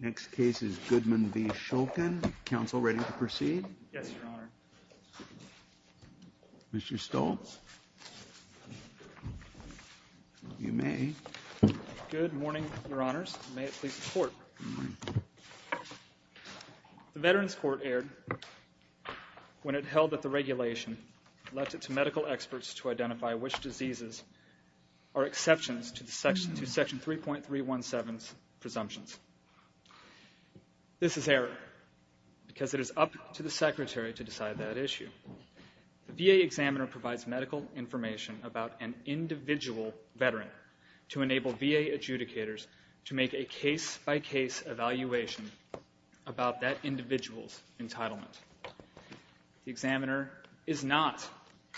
Next case is Goodman v. Shulkin. Good morning, Your Honors, and may it please the Court. The Veterans Court erred when it held that the regulation left it to medical experts to identify which diseases are exceptions to Section 3.317's presumptions. This is error, because it is up to the Secretary to decide that issue. The VA examiner provides medical information about an individual Veteran to enable VA adjudicators to make a case-by-case evaluation about that individual's entitlement. The examiner is not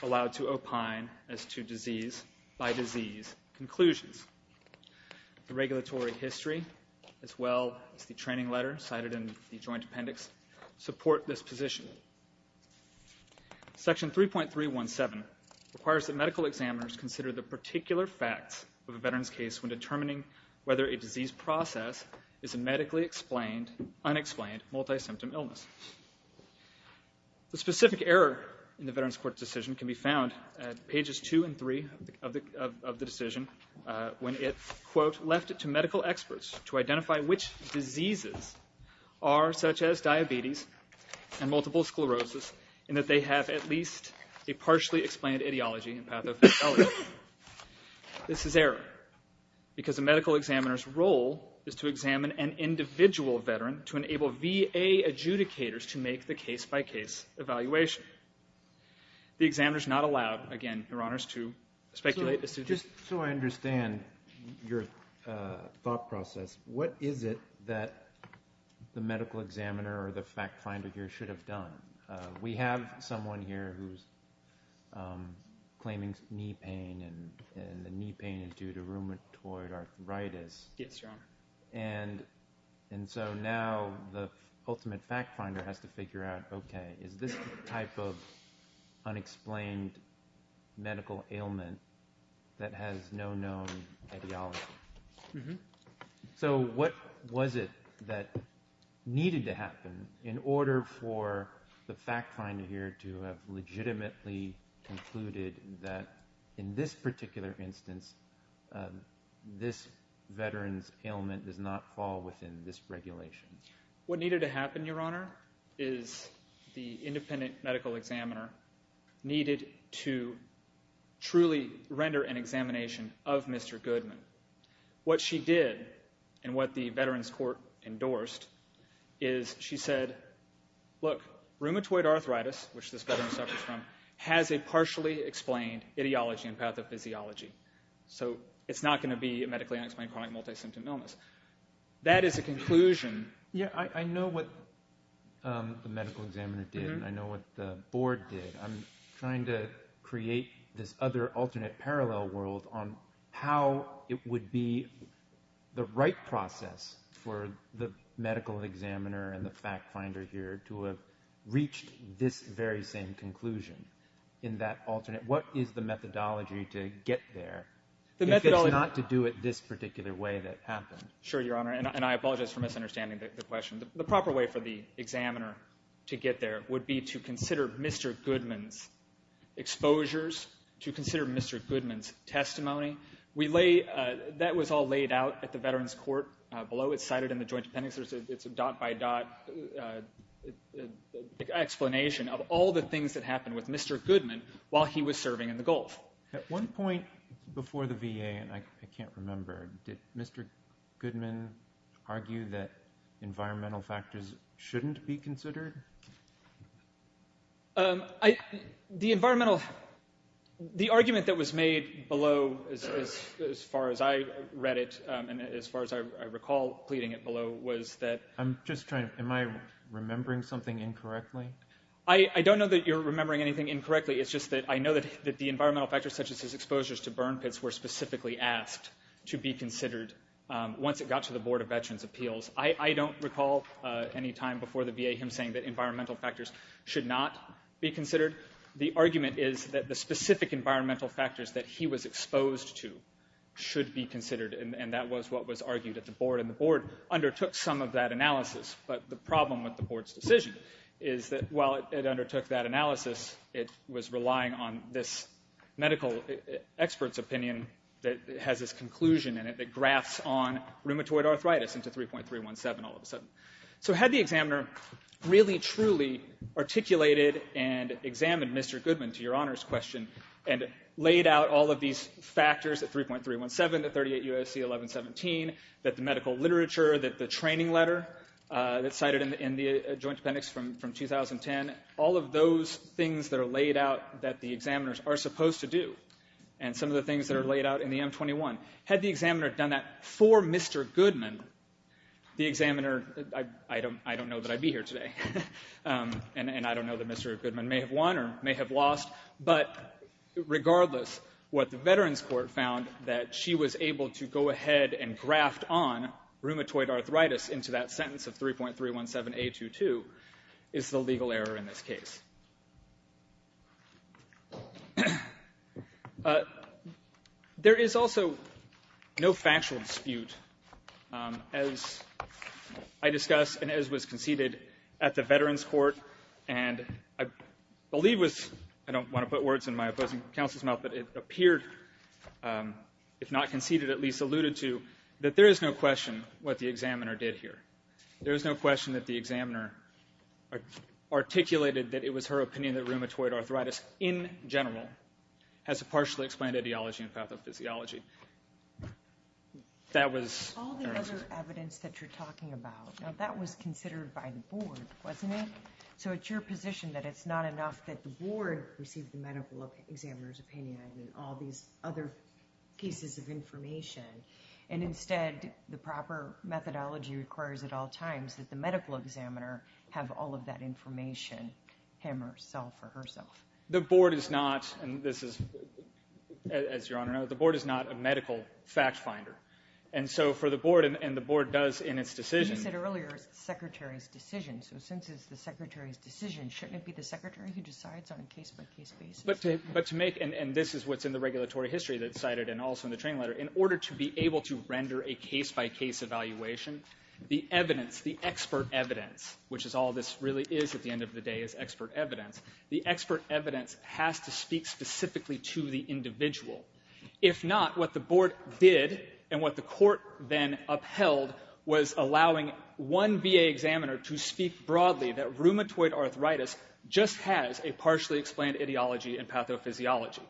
allowed to opine as to disease-by-disease conclusions. The regulatory history, as well as the training letter cited in the Joint Appendix, support this position. Section 3.317 requires that medical examiners consider the particular facts of a Veteran's case when determining whether a disease process is a medically explained, unexplained, multi-symptom illness. The specific error in the Veterans Court's decision can be found at pages 2 and 3 of the decision when it, quote, left it to medical experts to identify which diseases are, such as diabetes and multiple sclerosis, and that they have at least a partially explained ideology and pathophysiology. This is error, because a medical examiner's role is to examine an individual Veteran to enable VA adjudicators to make the case-by-case evaluation. The examiner is not allowed, again, Your Honors, to speculate this decision. So I understand your thought process. What is it that the medical examiner or the fact finder here should have done? We have someone here who's claiming knee pain, and the knee pain is due to rheumatoid arthritis. Yes, Your Honor. And so now the ultimate fact finder has to figure out, okay, is this the type of unexplained medical ailment that has no known ideology? So what was it that needed to happen in order for the fact finder here to have legitimately concluded that in this particular instance, this Veteran's ailment does not fall within this regulation? What needed to happen, Your Honor, is the independent medical examiner needed to truly render an examination of Mr. Goodman. What she did, and what the Veterans Court endorsed, is she said, look, rheumatoid arthritis, which this Veteran suffers from, has a partially explained ideology and pathophysiology. So it's not going to be a medically unexplained chronic multi-symptom illness. That is a conclusion. Yeah, I know what the medical examiner did, and I know what the board did. I'm trying to create this other alternate parallel world on how it would be the right for the medical examiner and the fact finder here to have reached this very same conclusion in that alternate. What is the methodology to get there if it's not to do it this particular way that happened? Sure, Your Honor, and I apologize for misunderstanding the question. The proper way for the examiner to get there would be to consider Mr. Goodman's exposures, to consider Mr. Goodman's testimony. We lay, that was all laid out at the Veterans Court below. It's cited in the joint appendix. It's a dot by dot explanation of all the things that happened with Mr. Goodman while he was serving in the Gulf. At one point before the VA, and I can't remember, did Mr. Goodman argue that environmental factors shouldn't be considered? I, the environmental, the argument that was made below, as far as I read it, and as far as I recall pleading it below, was that. I'm just trying, am I remembering something incorrectly? I don't know that you're remembering anything incorrectly. It's just that I know that the environmental factors such as his exposures to burn pits were specifically asked to be considered once it got to the Board of Veterans' Appeals. I don't recall any time before the VA him saying that environmental factors should not be considered. The argument is that the specific environmental factors that he was exposed to should be considered, and that was what was argued at the Board, and the Board undertook some of that analysis, but the problem with the Board's decision is that while it undertook that analysis, it was relying on this medical expert's opinion that has this conclusion in it that graphs on rheumatoid arthritis into 3.317 all of a sudden. So had the examiner really, truly articulated and examined Mr. Goodman to your Honor's question and laid out all of these factors, the 3.317, the 38 U.S.C. 1117, that the medical literature, that the training letter that's cited in the joint appendix from 2010, all of those things that are laid out that the examiners are supposed to do, and some of the things that are laid out in the M21, had the examiner done that for Mr. Goodman, the examiner, I don't know that I'd be here today, and I don't know that Mr. Goodman may have won or may have lost, but regardless, what the Veterans Court found that she was able to go ahead and graphed on rheumatoid arthritis into that sentence of 3.317A22 is the legal error in this case. There is also no factual dispute, as I discussed and as was conceded at the Veterans Court, and I believe was, I don't want to put words in my opposing counsel's mouth, but it appeared, if not conceded, at least alluded to, that there is no question what the examiner did here. There is no question that the examiner articulated that it was her opinion that rheumatoid arthritis, in general, has a partially explained ideology and pathophysiology. That was... All the other evidence that you're talking about, now that was considered by the board, wasn't it? So it's your position that it's not enough that the board received the medical examiner's opinion and all these other cases of information, and instead, the proper methodology requires at all times that the medical examiner have all of that information, him or herself or herself. The board is not, and this is, as Your Honor knows, the board is not a medical fact finder, and so for the board, and the board does in its decision... You said earlier, it's the Secretary's decision, so since it's the Secretary's decision, shouldn't it be the Secretary who decides on a case-by-case basis? But to make, and this is what's in the regulatory history that's cited, and also in the training letter, in order to be able to render a case-by-case evaluation, the evidence, the expert evidence, which is all this really is at the end of the day, is expert evidence, the expert evidence has to speak specifically to the individual. If not, what the board did, and what the court then upheld, was allowing one VA examiner to speak broadly that rheumatoid arthritis just has a partially explained ideology and pathophysiology.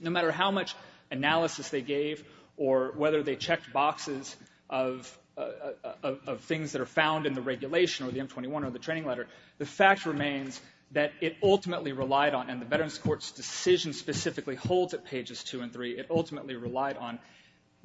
No matter how much analysis they gave, or whether they checked boxes of things that are found in the regulation, or the M21, or the training letter, the fact remains that it ultimately relied on, and the Veterans Court's decision specifically holds at pages two and three, it ultimately relied on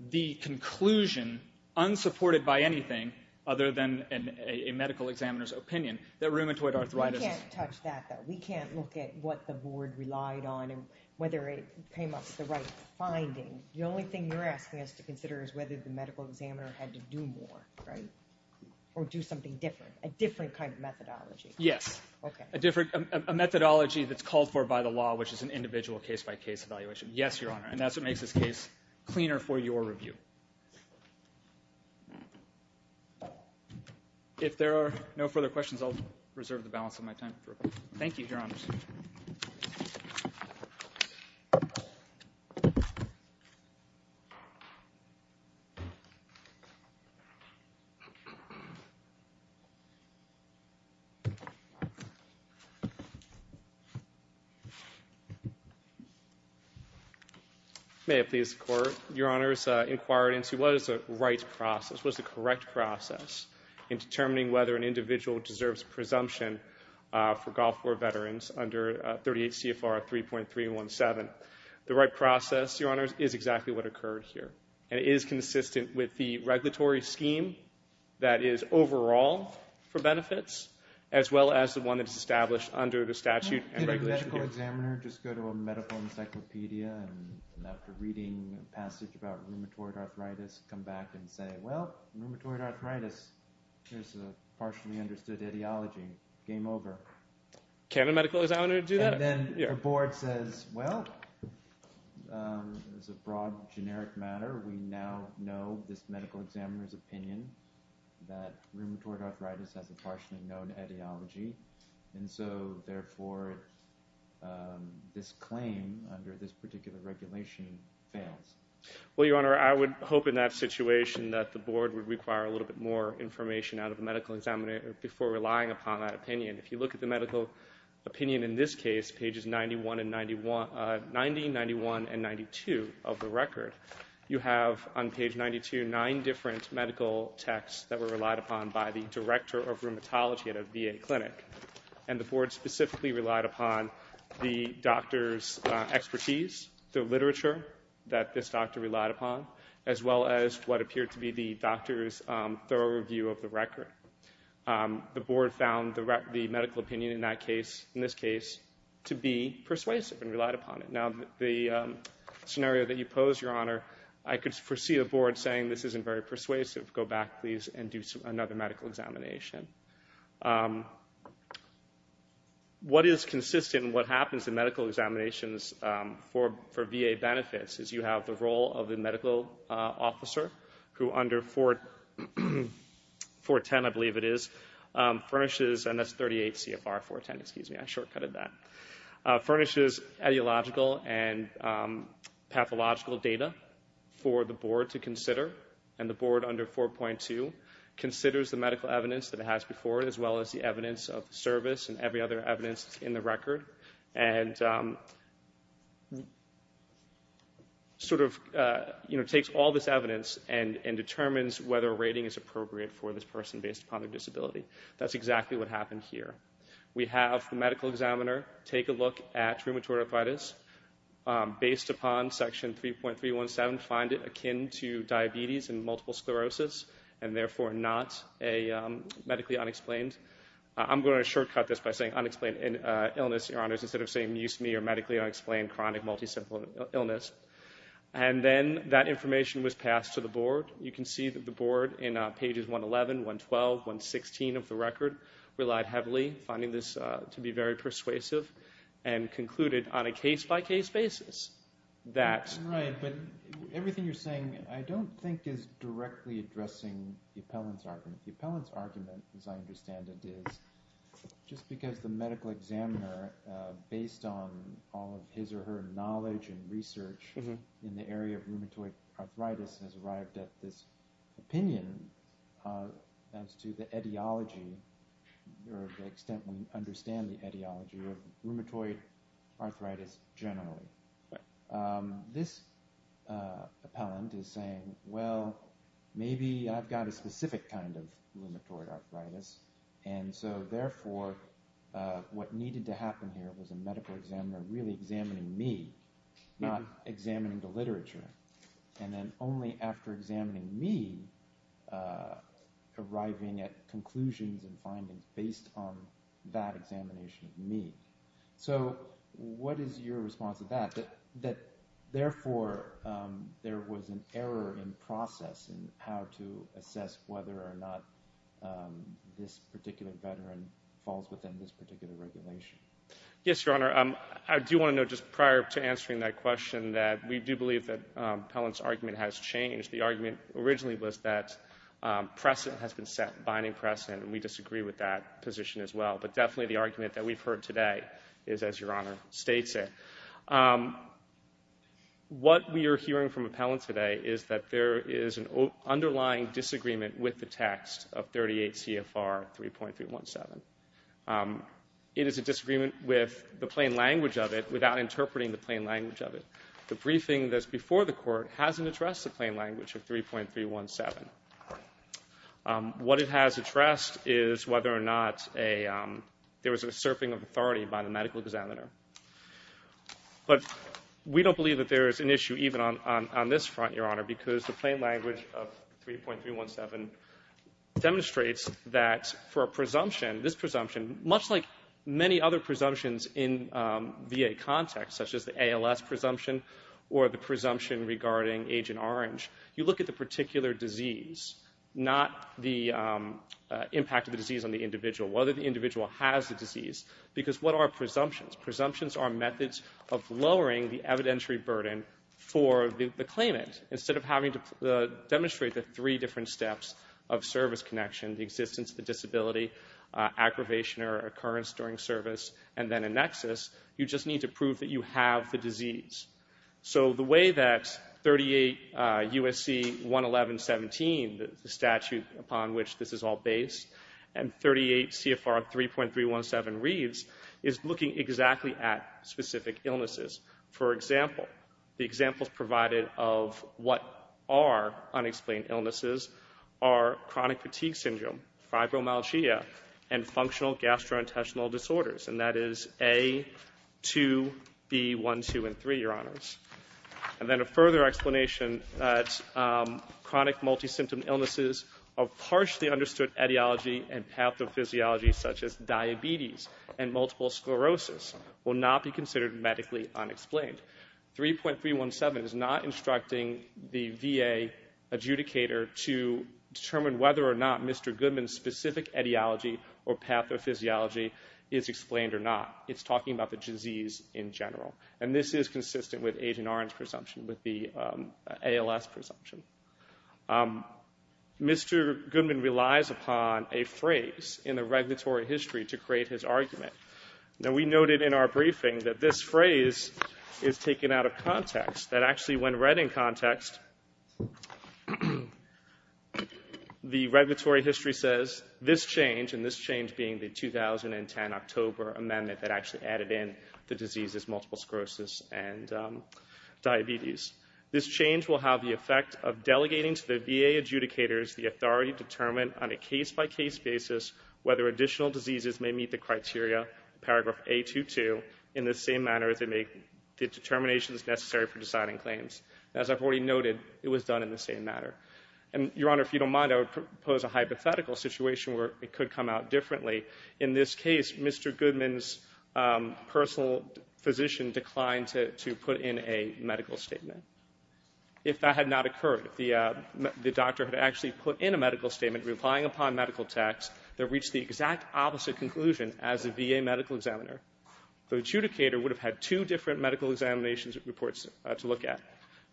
the conclusion, unsupported by anything other than a medical examiner's opinion, that rheumatoid arthritis is... We can't touch that, though. We can't look at what the board relied on, and whether it came up with the right finding. The only thing you're asking us to consider is whether the medical examiner had to do more, right? Or do something different, a different kind of methodology. Yes. Okay. A different, a methodology that's called for by the law, which is an individual case-by-case evaluation. Yes, Your Honor, and that's what makes this case cleaner for your review. If there are no further questions, I'll reserve the balance of my time. Thank you, Your Honor. May I please, Your Honor, inquire into what is the right process, what is the correct process, in determining whether an individual deserves presumption for Gulf War Veterans under 38 CFR 3.317? The right process, Your Honor, is exactly what occurred here, and it is consistent with the regulatory scheme that is overall for benefits, as well as the one that's established under the statute and regulation here. Can a medical examiner just go to a medical encyclopedia, and after reading a passage about rheumatoid arthritis, come back and say, well, rheumatoid arthritis, there's a partially understood ideology. Game over. Can a medical examiner do that? And then the board says, well, it's a broad, generic matter. We now know this medical examiner's opinion that rheumatoid arthritis has a partially known ideology, and so, therefore, this claim under this particular regulation fails. Well, Your Honor, I would hope in that situation that the board would require a little bit more information out of the medical examiner before relying upon that opinion. If you look at the medical opinion in this case, pages 90, 91, and 92 of the record, you have on page 92 nine different medical texts that were relied upon by the director of rheumatology at a VA clinic. And the board specifically relied upon the doctor's expertise, the literature that this doctor relied upon, as well as what appeared to be the doctor's thorough review of the record. The board found the medical opinion in that case, in this case, to be persuasive and relied upon it. Now, the scenario that you pose, Your Honor, I could foresee a board saying this isn't very persuasive. Go back, please, and do another medical examination. What is consistent and what happens in medical examinations for VA benefits is you have the role of the medical officer, who under 410, I believe it is, furnishes, and that's 38 CFR 410, excuse me, I shortcutted that, furnishes ideological and pathological data for the board to consider. And the board under 4.2 considers the medical evidence that it has before it, as well as the evidence of service and every other evidence in the record, and sort of takes all this evidence and determines whether a rating is appropriate for this person based upon their disability. That's exactly what happened here. We have the medical examiner take a look at rheumatoid arthritis based upon section 3.317, find it akin to diabetes and multiple sclerosis, and therefore not a medically unexplained. I'm going to shortcut this by saying unexplained illness, Your Honors, instead of saying amuse-me or medically unexplained chronic multicellular illness. And then that information was passed to the board. You can see that the board, in pages 111, 112, 116 of the record, relied heavily, finding this to be very persuasive, and concluded on a case-by-case basis that- Right, but everything you're saying I don't think is directly addressing the appellant's argument. The appellant's argument, as I understand it, is just because the medical examiner, based on all of his or her knowledge and research in the area of rheumatoid arthritis, has arrived at this opinion as to the etiology, or the extent we understand the etiology of rheumatoid arthritis generally. This appellant is saying, well, maybe I've got a specific kind of rheumatoid arthritis, and so therefore what needed to happen here was a medical examiner really examining me, not examining the literature, and then only after examining me, arriving at conclusions and findings based on that examination of me. So what is your response to that, that therefore there was an error in process in how to assess whether or not this particular veteran falls within this particular regulation? Yes, Your Honor. I do want to note, just prior to answering that question, that we do believe that the appellant's argument has changed. The argument originally was that precedent has been set, binding precedent, and we disagree with that position as well. But definitely the argument that we've heard today is as Your Honor states it. What we are hearing from appellants today is that there is an underlying disagreement with the text of 38 CFR 3.317. It is a disagreement with the plain language of it, without interpreting the plain language of it. The briefing that's before the Court hasn't addressed the plain language of 3.317. What it has addressed is whether or not there was a surfing of authority by the medical examiner. But we don't believe that there is an issue even on this front, Your Honor, because the plain language of 3.317 demonstrates that for a presumption, this presumption, much like many other presumptions in VA context, such as the ALS presumption or the presumption regarding Agent Orange, you look at the particular disease, not the impact of the disease on the individual, whether the individual has the disease, because what are presumptions? Presumptions are methods of lowering the evidentiary burden for the claimant. Instead of having to demonstrate the three different steps of service connection, the existence, the disability, aggravation or occurrence during service, and then a nexus, you just need to prove that you have the disease. So the way that 38 U.S.C. 111.17, the statute upon which this is all based, and 38 CFR 3.317 reads is looking exactly at specific illnesses. For example, the examples provided of what are unexplained illnesses are chronic fatigue syndrome, fibromyalgia, and functional gastrointestinal disorders, and that is A, 2, B, 1, 2, and 3, your honors. And then a further explanation, chronic multi-symptom illnesses of harshly understood etiology and pathophysiology such as diabetes and multiple sclerosis will not be considered medically unexplained. 3.317 is not instructing the VA adjudicator to determine whether or not Mr. Goodman's specific etiology or pathophysiology is explained or not. It's talking about the disease in general. And this is consistent with Agent Orange's presumption, with the ALS presumption. Mr. Goodman relies upon a phrase in the regulatory history to create his argument. Now, we noted in our briefing that this phrase is taken out of context, that actually when read in context, the regulatory history says this change, this change being the 2010 October amendment that actually added in the diseases, multiple sclerosis and diabetes. This change will have the effect of delegating to the VA adjudicators the authority to determine on a case-by-case basis whether additional diseases may meet the criteria, paragraph A22, in the same manner as they make the determinations necessary for designing claims. As I've already noted, it was done in the same manner. And, Your Honor, if you don't mind, I would propose a hypothetical situation where it could come out differently. In this case, Mr. Goodman's personal physician declined to put in a medical statement. If that had not occurred, if the doctor had actually put in a medical statement relying upon medical text that reached the exact opposite conclusion as the VA medical examiner, the adjudicator would have had two different medical examinations reports to look at.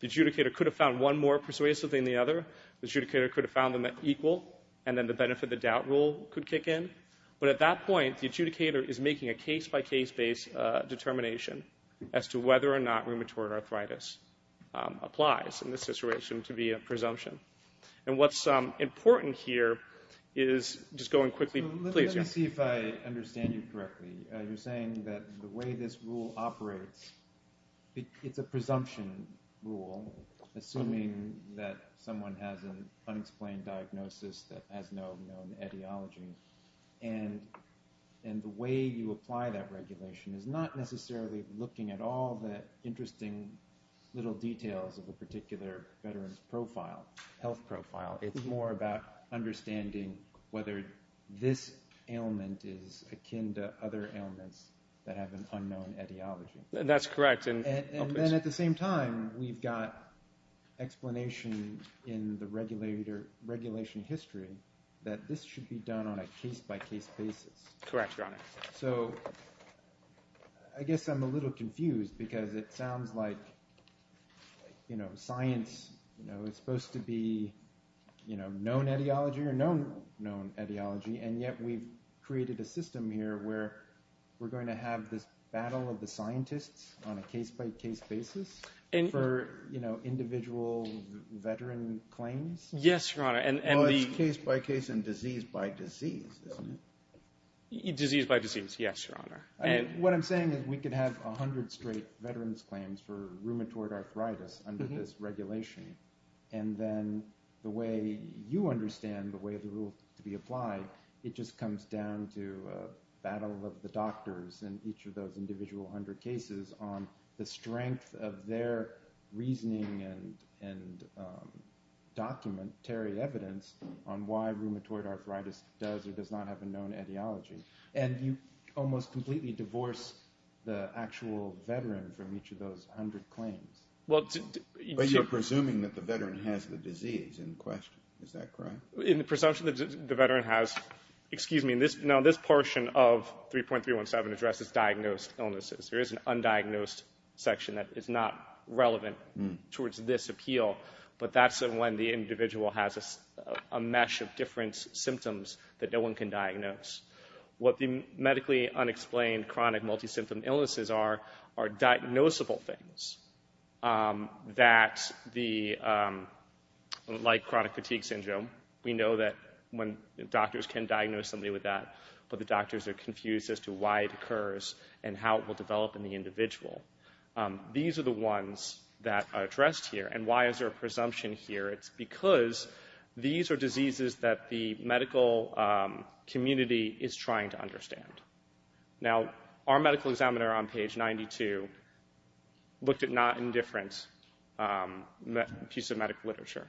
The adjudicator could have found one more persuasive than the other. The adjudicator could have found them equal. And then the benefit-of-the-doubt rule could kick in. But at that point, the adjudicator is making a case-by-case-based determination as to whether or not rheumatoid arthritis applies in this situation to be a presumption. And what's important here is just going quickly. Let me see if I understand you correctly. You're saying that the way this rule operates, it's a presumption rule, assuming that someone has an unexplained diagnosis that has no known etiology. And the way you apply that regulation is not necessarily looking at all the interesting little details of a particular veteran's health profile. It's more about understanding whether this ailment is akin to other ailments that have an unknown etiology. That's correct. And then at the same time, we've got explanation in the regulation history that this should be done on a case-by-case basis. Correct, Your Honor. So I guess I'm a little confused because it sounds like science is supposed to be known etiology or known etiology, and yet we've created a system here where we're going to have this battle of the scientists on a case-by-case basis for individual veteran claims? Yes, Your Honor. Well, it's case-by-case and disease-by-disease, isn't it? Disease-by-disease, yes, Your Honor. What I'm saying is we could have 100 straight veteran's claims for rheumatoid arthritis under this regulation, and then the way you understand the way the rule is to be applied, it just comes down to a battle of the doctors in each of those individual 100 cases on the strength of their reasoning and documentary evidence on why rheumatoid arthritis does or does not have a known etiology. And you almost completely divorce the actual veteran from each of those 100 claims. But you're presuming that the veteran has the disease in question. Is that correct? In the presumption that the veteran has, excuse me, now this portion of 3.317 addresses diagnosed illnesses. There is an undiagnosed section that is not relevant towards this appeal, but that's when the individual has a mesh of different symptoms that no one can diagnose. What the medically unexplained chronic multi-symptom illnesses are are diagnosable things, like chronic fatigue syndrome. We know that doctors can diagnose somebody with that, but the doctors are confused as to why it occurs and how it will develop in the individual. These are the ones that are addressed here. And why is there a presumption here? It's because these are diseases that the medical community is trying to understand. Now, our medical examiner on page 92 looked at not indifferent piece of medical literature.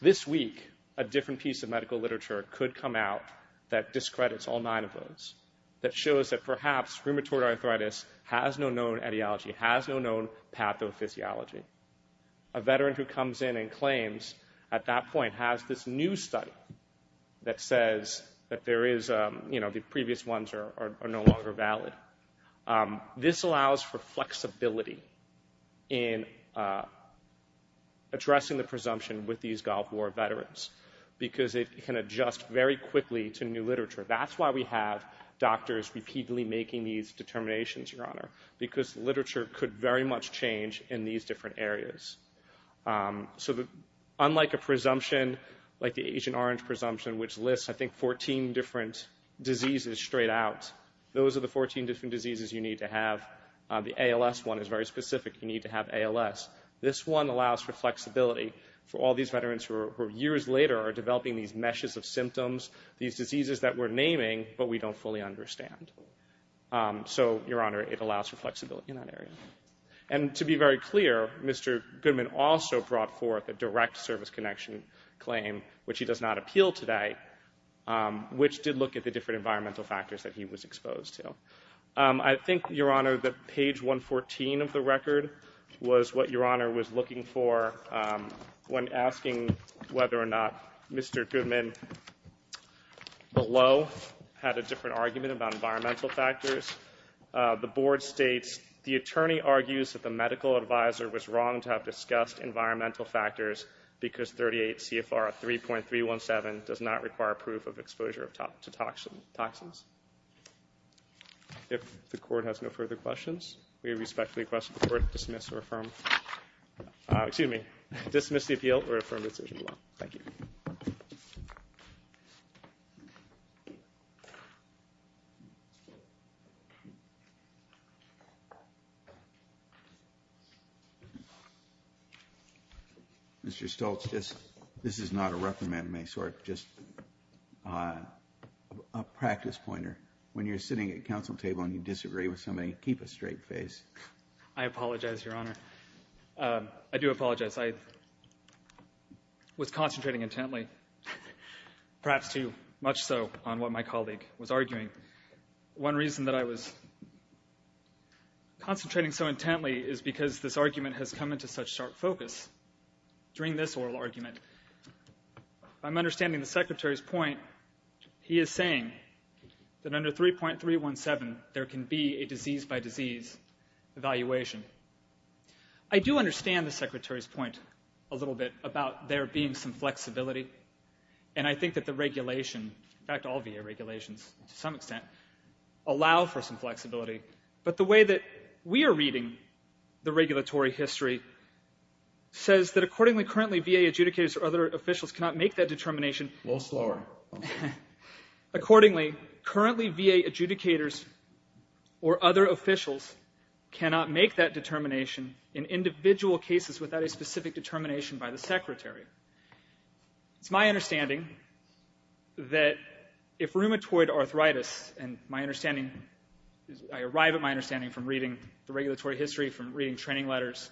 This week, a different piece of medical literature could come out that discredits all nine of those, that shows that perhaps rheumatoid arthritis has no known etiology, has no known pathophysiology. A veteran who comes in and claims at that point has this new study that says that there is, you know, the previous ones are no longer valid. This allows for flexibility in addressing the presumption with these Gulf War veterans, That's why we have doctors repeatedly making these determinations, Your Honor, because literature could very much change in these different areas. So unlike a presumption like the Agent Orange presumption, which lists, I think, 14 different diseases straight out, those are the 14 different diseases you need to have. The ALS one is very specific. You need to have ALS. This one allows for flexibility for all these veterans who, years later, are developing these meshes of symptoms, these diseases that we're naming but we don't fully understand. So, Your Honor, it allows for flexibility in that area. And to be very clear, Mr. Goodman also brought forth a direct service connection claim, which he does not appeal today, which did look at the different environmental factors that he was exposed to. I think, Your Honor, that page 114 of the record was what Your Honor was looking for when asking whether or not Mr. Goodman below had a different argument about environmental factors. The board states, the attorney argues that the medical advisor was wrong to have discussed environmental factors because 38 CFR 3.317 does not require proof of exposure to toxins. If the court has no further questions, we respectfully request the court dismiss or affirm. Excuse me. Dismiss the appeal or affirm the decision. Thank you. Mr. Stoltz, this is not a reprimand of any sort, just a practice pointer. When you're sitting at a council table and you disagree with somebody, keep a straight face. I apologize, Your Honor. I do apologize. I was concentrating intently, perhaps too much so on what my colleague was arguing. One reason that I was concentrating so intently is because this argument has come into such sharp focus during this oral argument. I'm understanding the Secretary's point. He is saying that under 3.317, there can be a disease-by-disease evaluation. I do understand the Secretary's point a little bit about there being some flexibility, and I think that the regulation, in fact, all VA regulations to some extent, allow for some flexibility. But the way that we are reading the regulatory history says that accordingly, currently, VA adjudicators or other officials cannot make that determination. A little slower. Accordingly, currently, VA adjudicators or other officials cannot make that determination in individual cases without a specific determination by the Secretary. It's my understanding that if rheumatoid arthritis, and my understanding, I arrive at my understanding from reading the regulatory history, from reading training letters,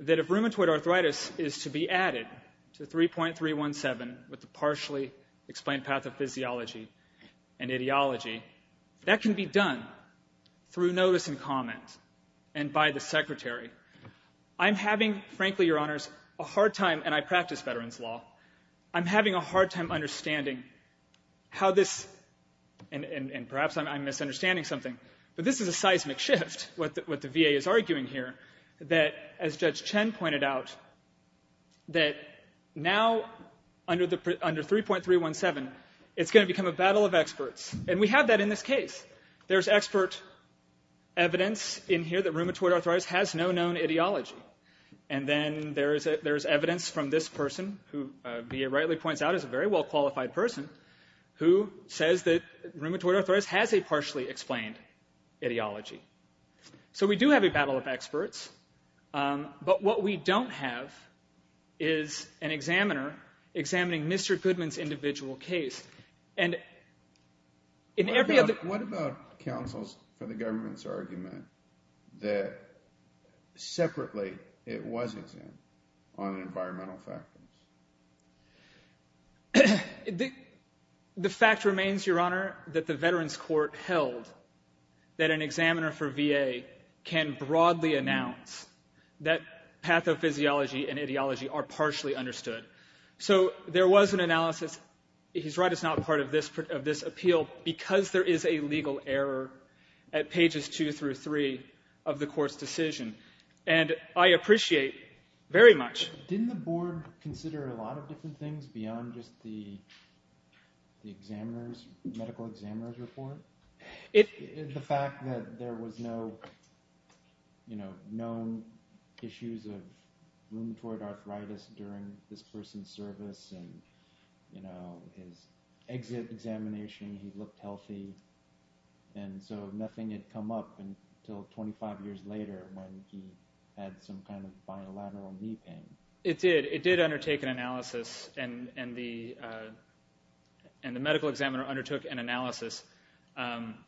that if rheumatoid arthritis is to be added to 3.317 with the partially explained pathophysiology and ideology, that can be done through notice and comment and by the Secretary. I'm having, frankly, Your Honors, a hard time, and I practice veterans' law, I'm having a hard time understanding how this, and perhaps I'm misunderstanding something, but this is a seismic shift, what the VA is arguing here, that as Judge Chen pointed out, that now under 3.317, it's going to become a battle of experts, and we have that in this case. There's expert evidence in here that rheumatoid arthritis has no known ideology, and then there's evidence from this person, who VA rightly points out is a very well-qualified person, who says that rheumatoid arthritis has a partially explained ideology. So we do have a battle of experts, but what we don't have is an examiner examining Mr. Goodman's individual case. And in every other... What about counsels for the government's argument that separately it was examined on environmental factors? The fact remains, Your Honor, that the Veterans Court held that an examiner for VA can broadly announce that pathophysiology and ideology are partially understood. So there was an analysis, he's right, it's not part of this appeal, because there is a legal error at pages two through three of the Court's decision. And I appreciate very much... Didn't the Board consider a lot of different things beyond just the medical examiner's report? The fact that there was no known issues of rheumatoid arthritis during this person's service, and his exit examination, he looked healthy, and so nothing had come up until 25 years later when he had some kind of bilateral knee pain. It did. It did undertake an analysis, and the medical examiner undertook an analysis.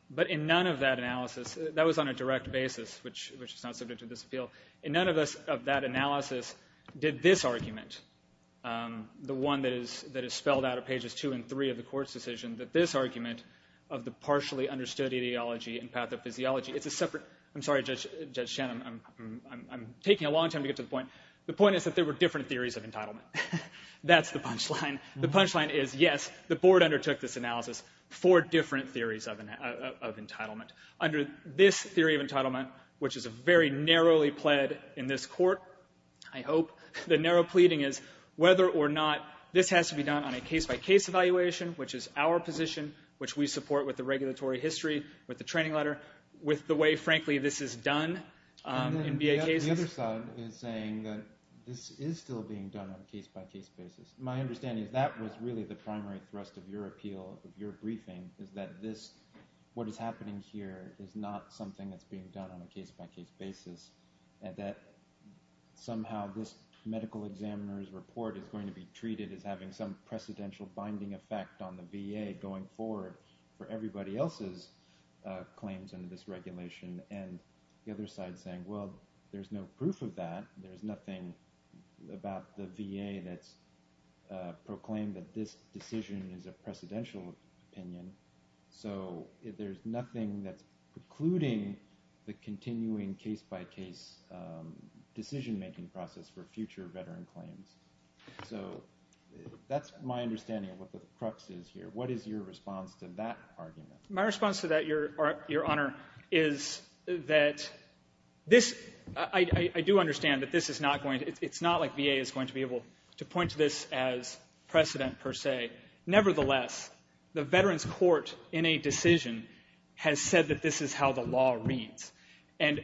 But in none of that analysis, that was on a direct basis, which is not subject to this appeal, in none of that analysis did this argument, the one that is spelled out at pages two and three of the Court's decision, that this argument of the partially understood ideology and pathophysiology, it's a separate... I'm sorry, Judge Shen, I'm taking a long time to get to the point. The point is that there were different theories of entitlement. That's the punchline. The punchline is, yes, the Board undertook this analysis for different theories of entitlement. Under this theory of entitlement, which is very narrowly pled in this Court, I hope, the narrow pleading is whether or not this has to be done on a case-by-case evaluation, which is our position, which we support with the regulatory history, with the training letter, with the way, frankly, this is done in VA cases. But the other side is saying that this is still being done on a case-by-case basis. My understanding is that was really the primary thrust of your appeal, of your briefing, is that what is happening here is not something that's being done on a case-by-case basis and that somehow this medical examiner's report is going to be treated as having some precedential binding effect on the VA going forward for everybody else's claims under this regulation. And the other side is saying, well, there's no proof of that. There's nothing about the VA that's proclaimed that this decision is a precedential opinion. So there's nothing that's precluding the continuing case-by-case decision-making process for future veteran claims. So that's my understanding of what the crux is here. What is your response to that argument? My response to that, Your Honor, is that this ‑‑ I do understand that this is not going to ‑‑ it's not like VA is going to be able to point to this as precedent, per se. Nevertheless, the Veterans Court, in a decision, has said that this is how the law reads. And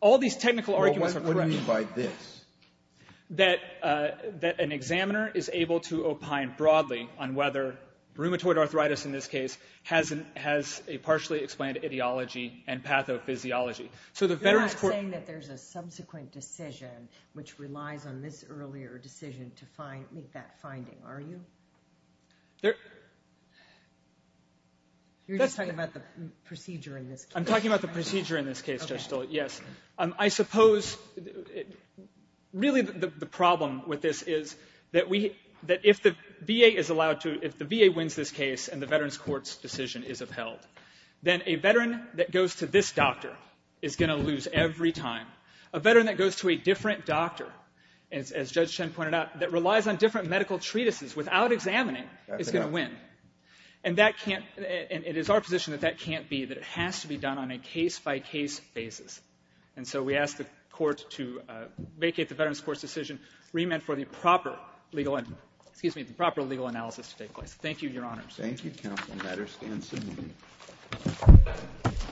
all these technical arguments are correct. Well, what do you mean by this? That an examiner is able to opine broadly on whether rheumatoid arthritis, in this case, has a partially explained ideology and pathophysiology. So the Veterans Court ‑‑ You're not saying that there's a subsequent decision which relies on this earlier decision to make that finding, are you? There ‑‑ You're just talking about the procedure in this case. I'm talking about the procedure in this case, Judge Stoll. Yes. I suppose really the problem with this is that if the VA is allowed to ‑‑ if the VA wins this case and the Veterans Court's decision is upheld, then a veteran that goes to this doctor is going to lose every time. A veteran that goes to a different doctor, as Judge Chen pointed out, that relies on different medical treatises without examining is going to win. And that can't ‑‑ and it is our position that that can't be, that it has to be done on a case‑by‑case basis. And so we ask the Court to vacate the Veterans Court's decision, remit for the proper legal ‑‑ excuse me, the proper legal analysis to take place. Thank you, Your Honors. Thank you, Counsel. The matter stands submitted.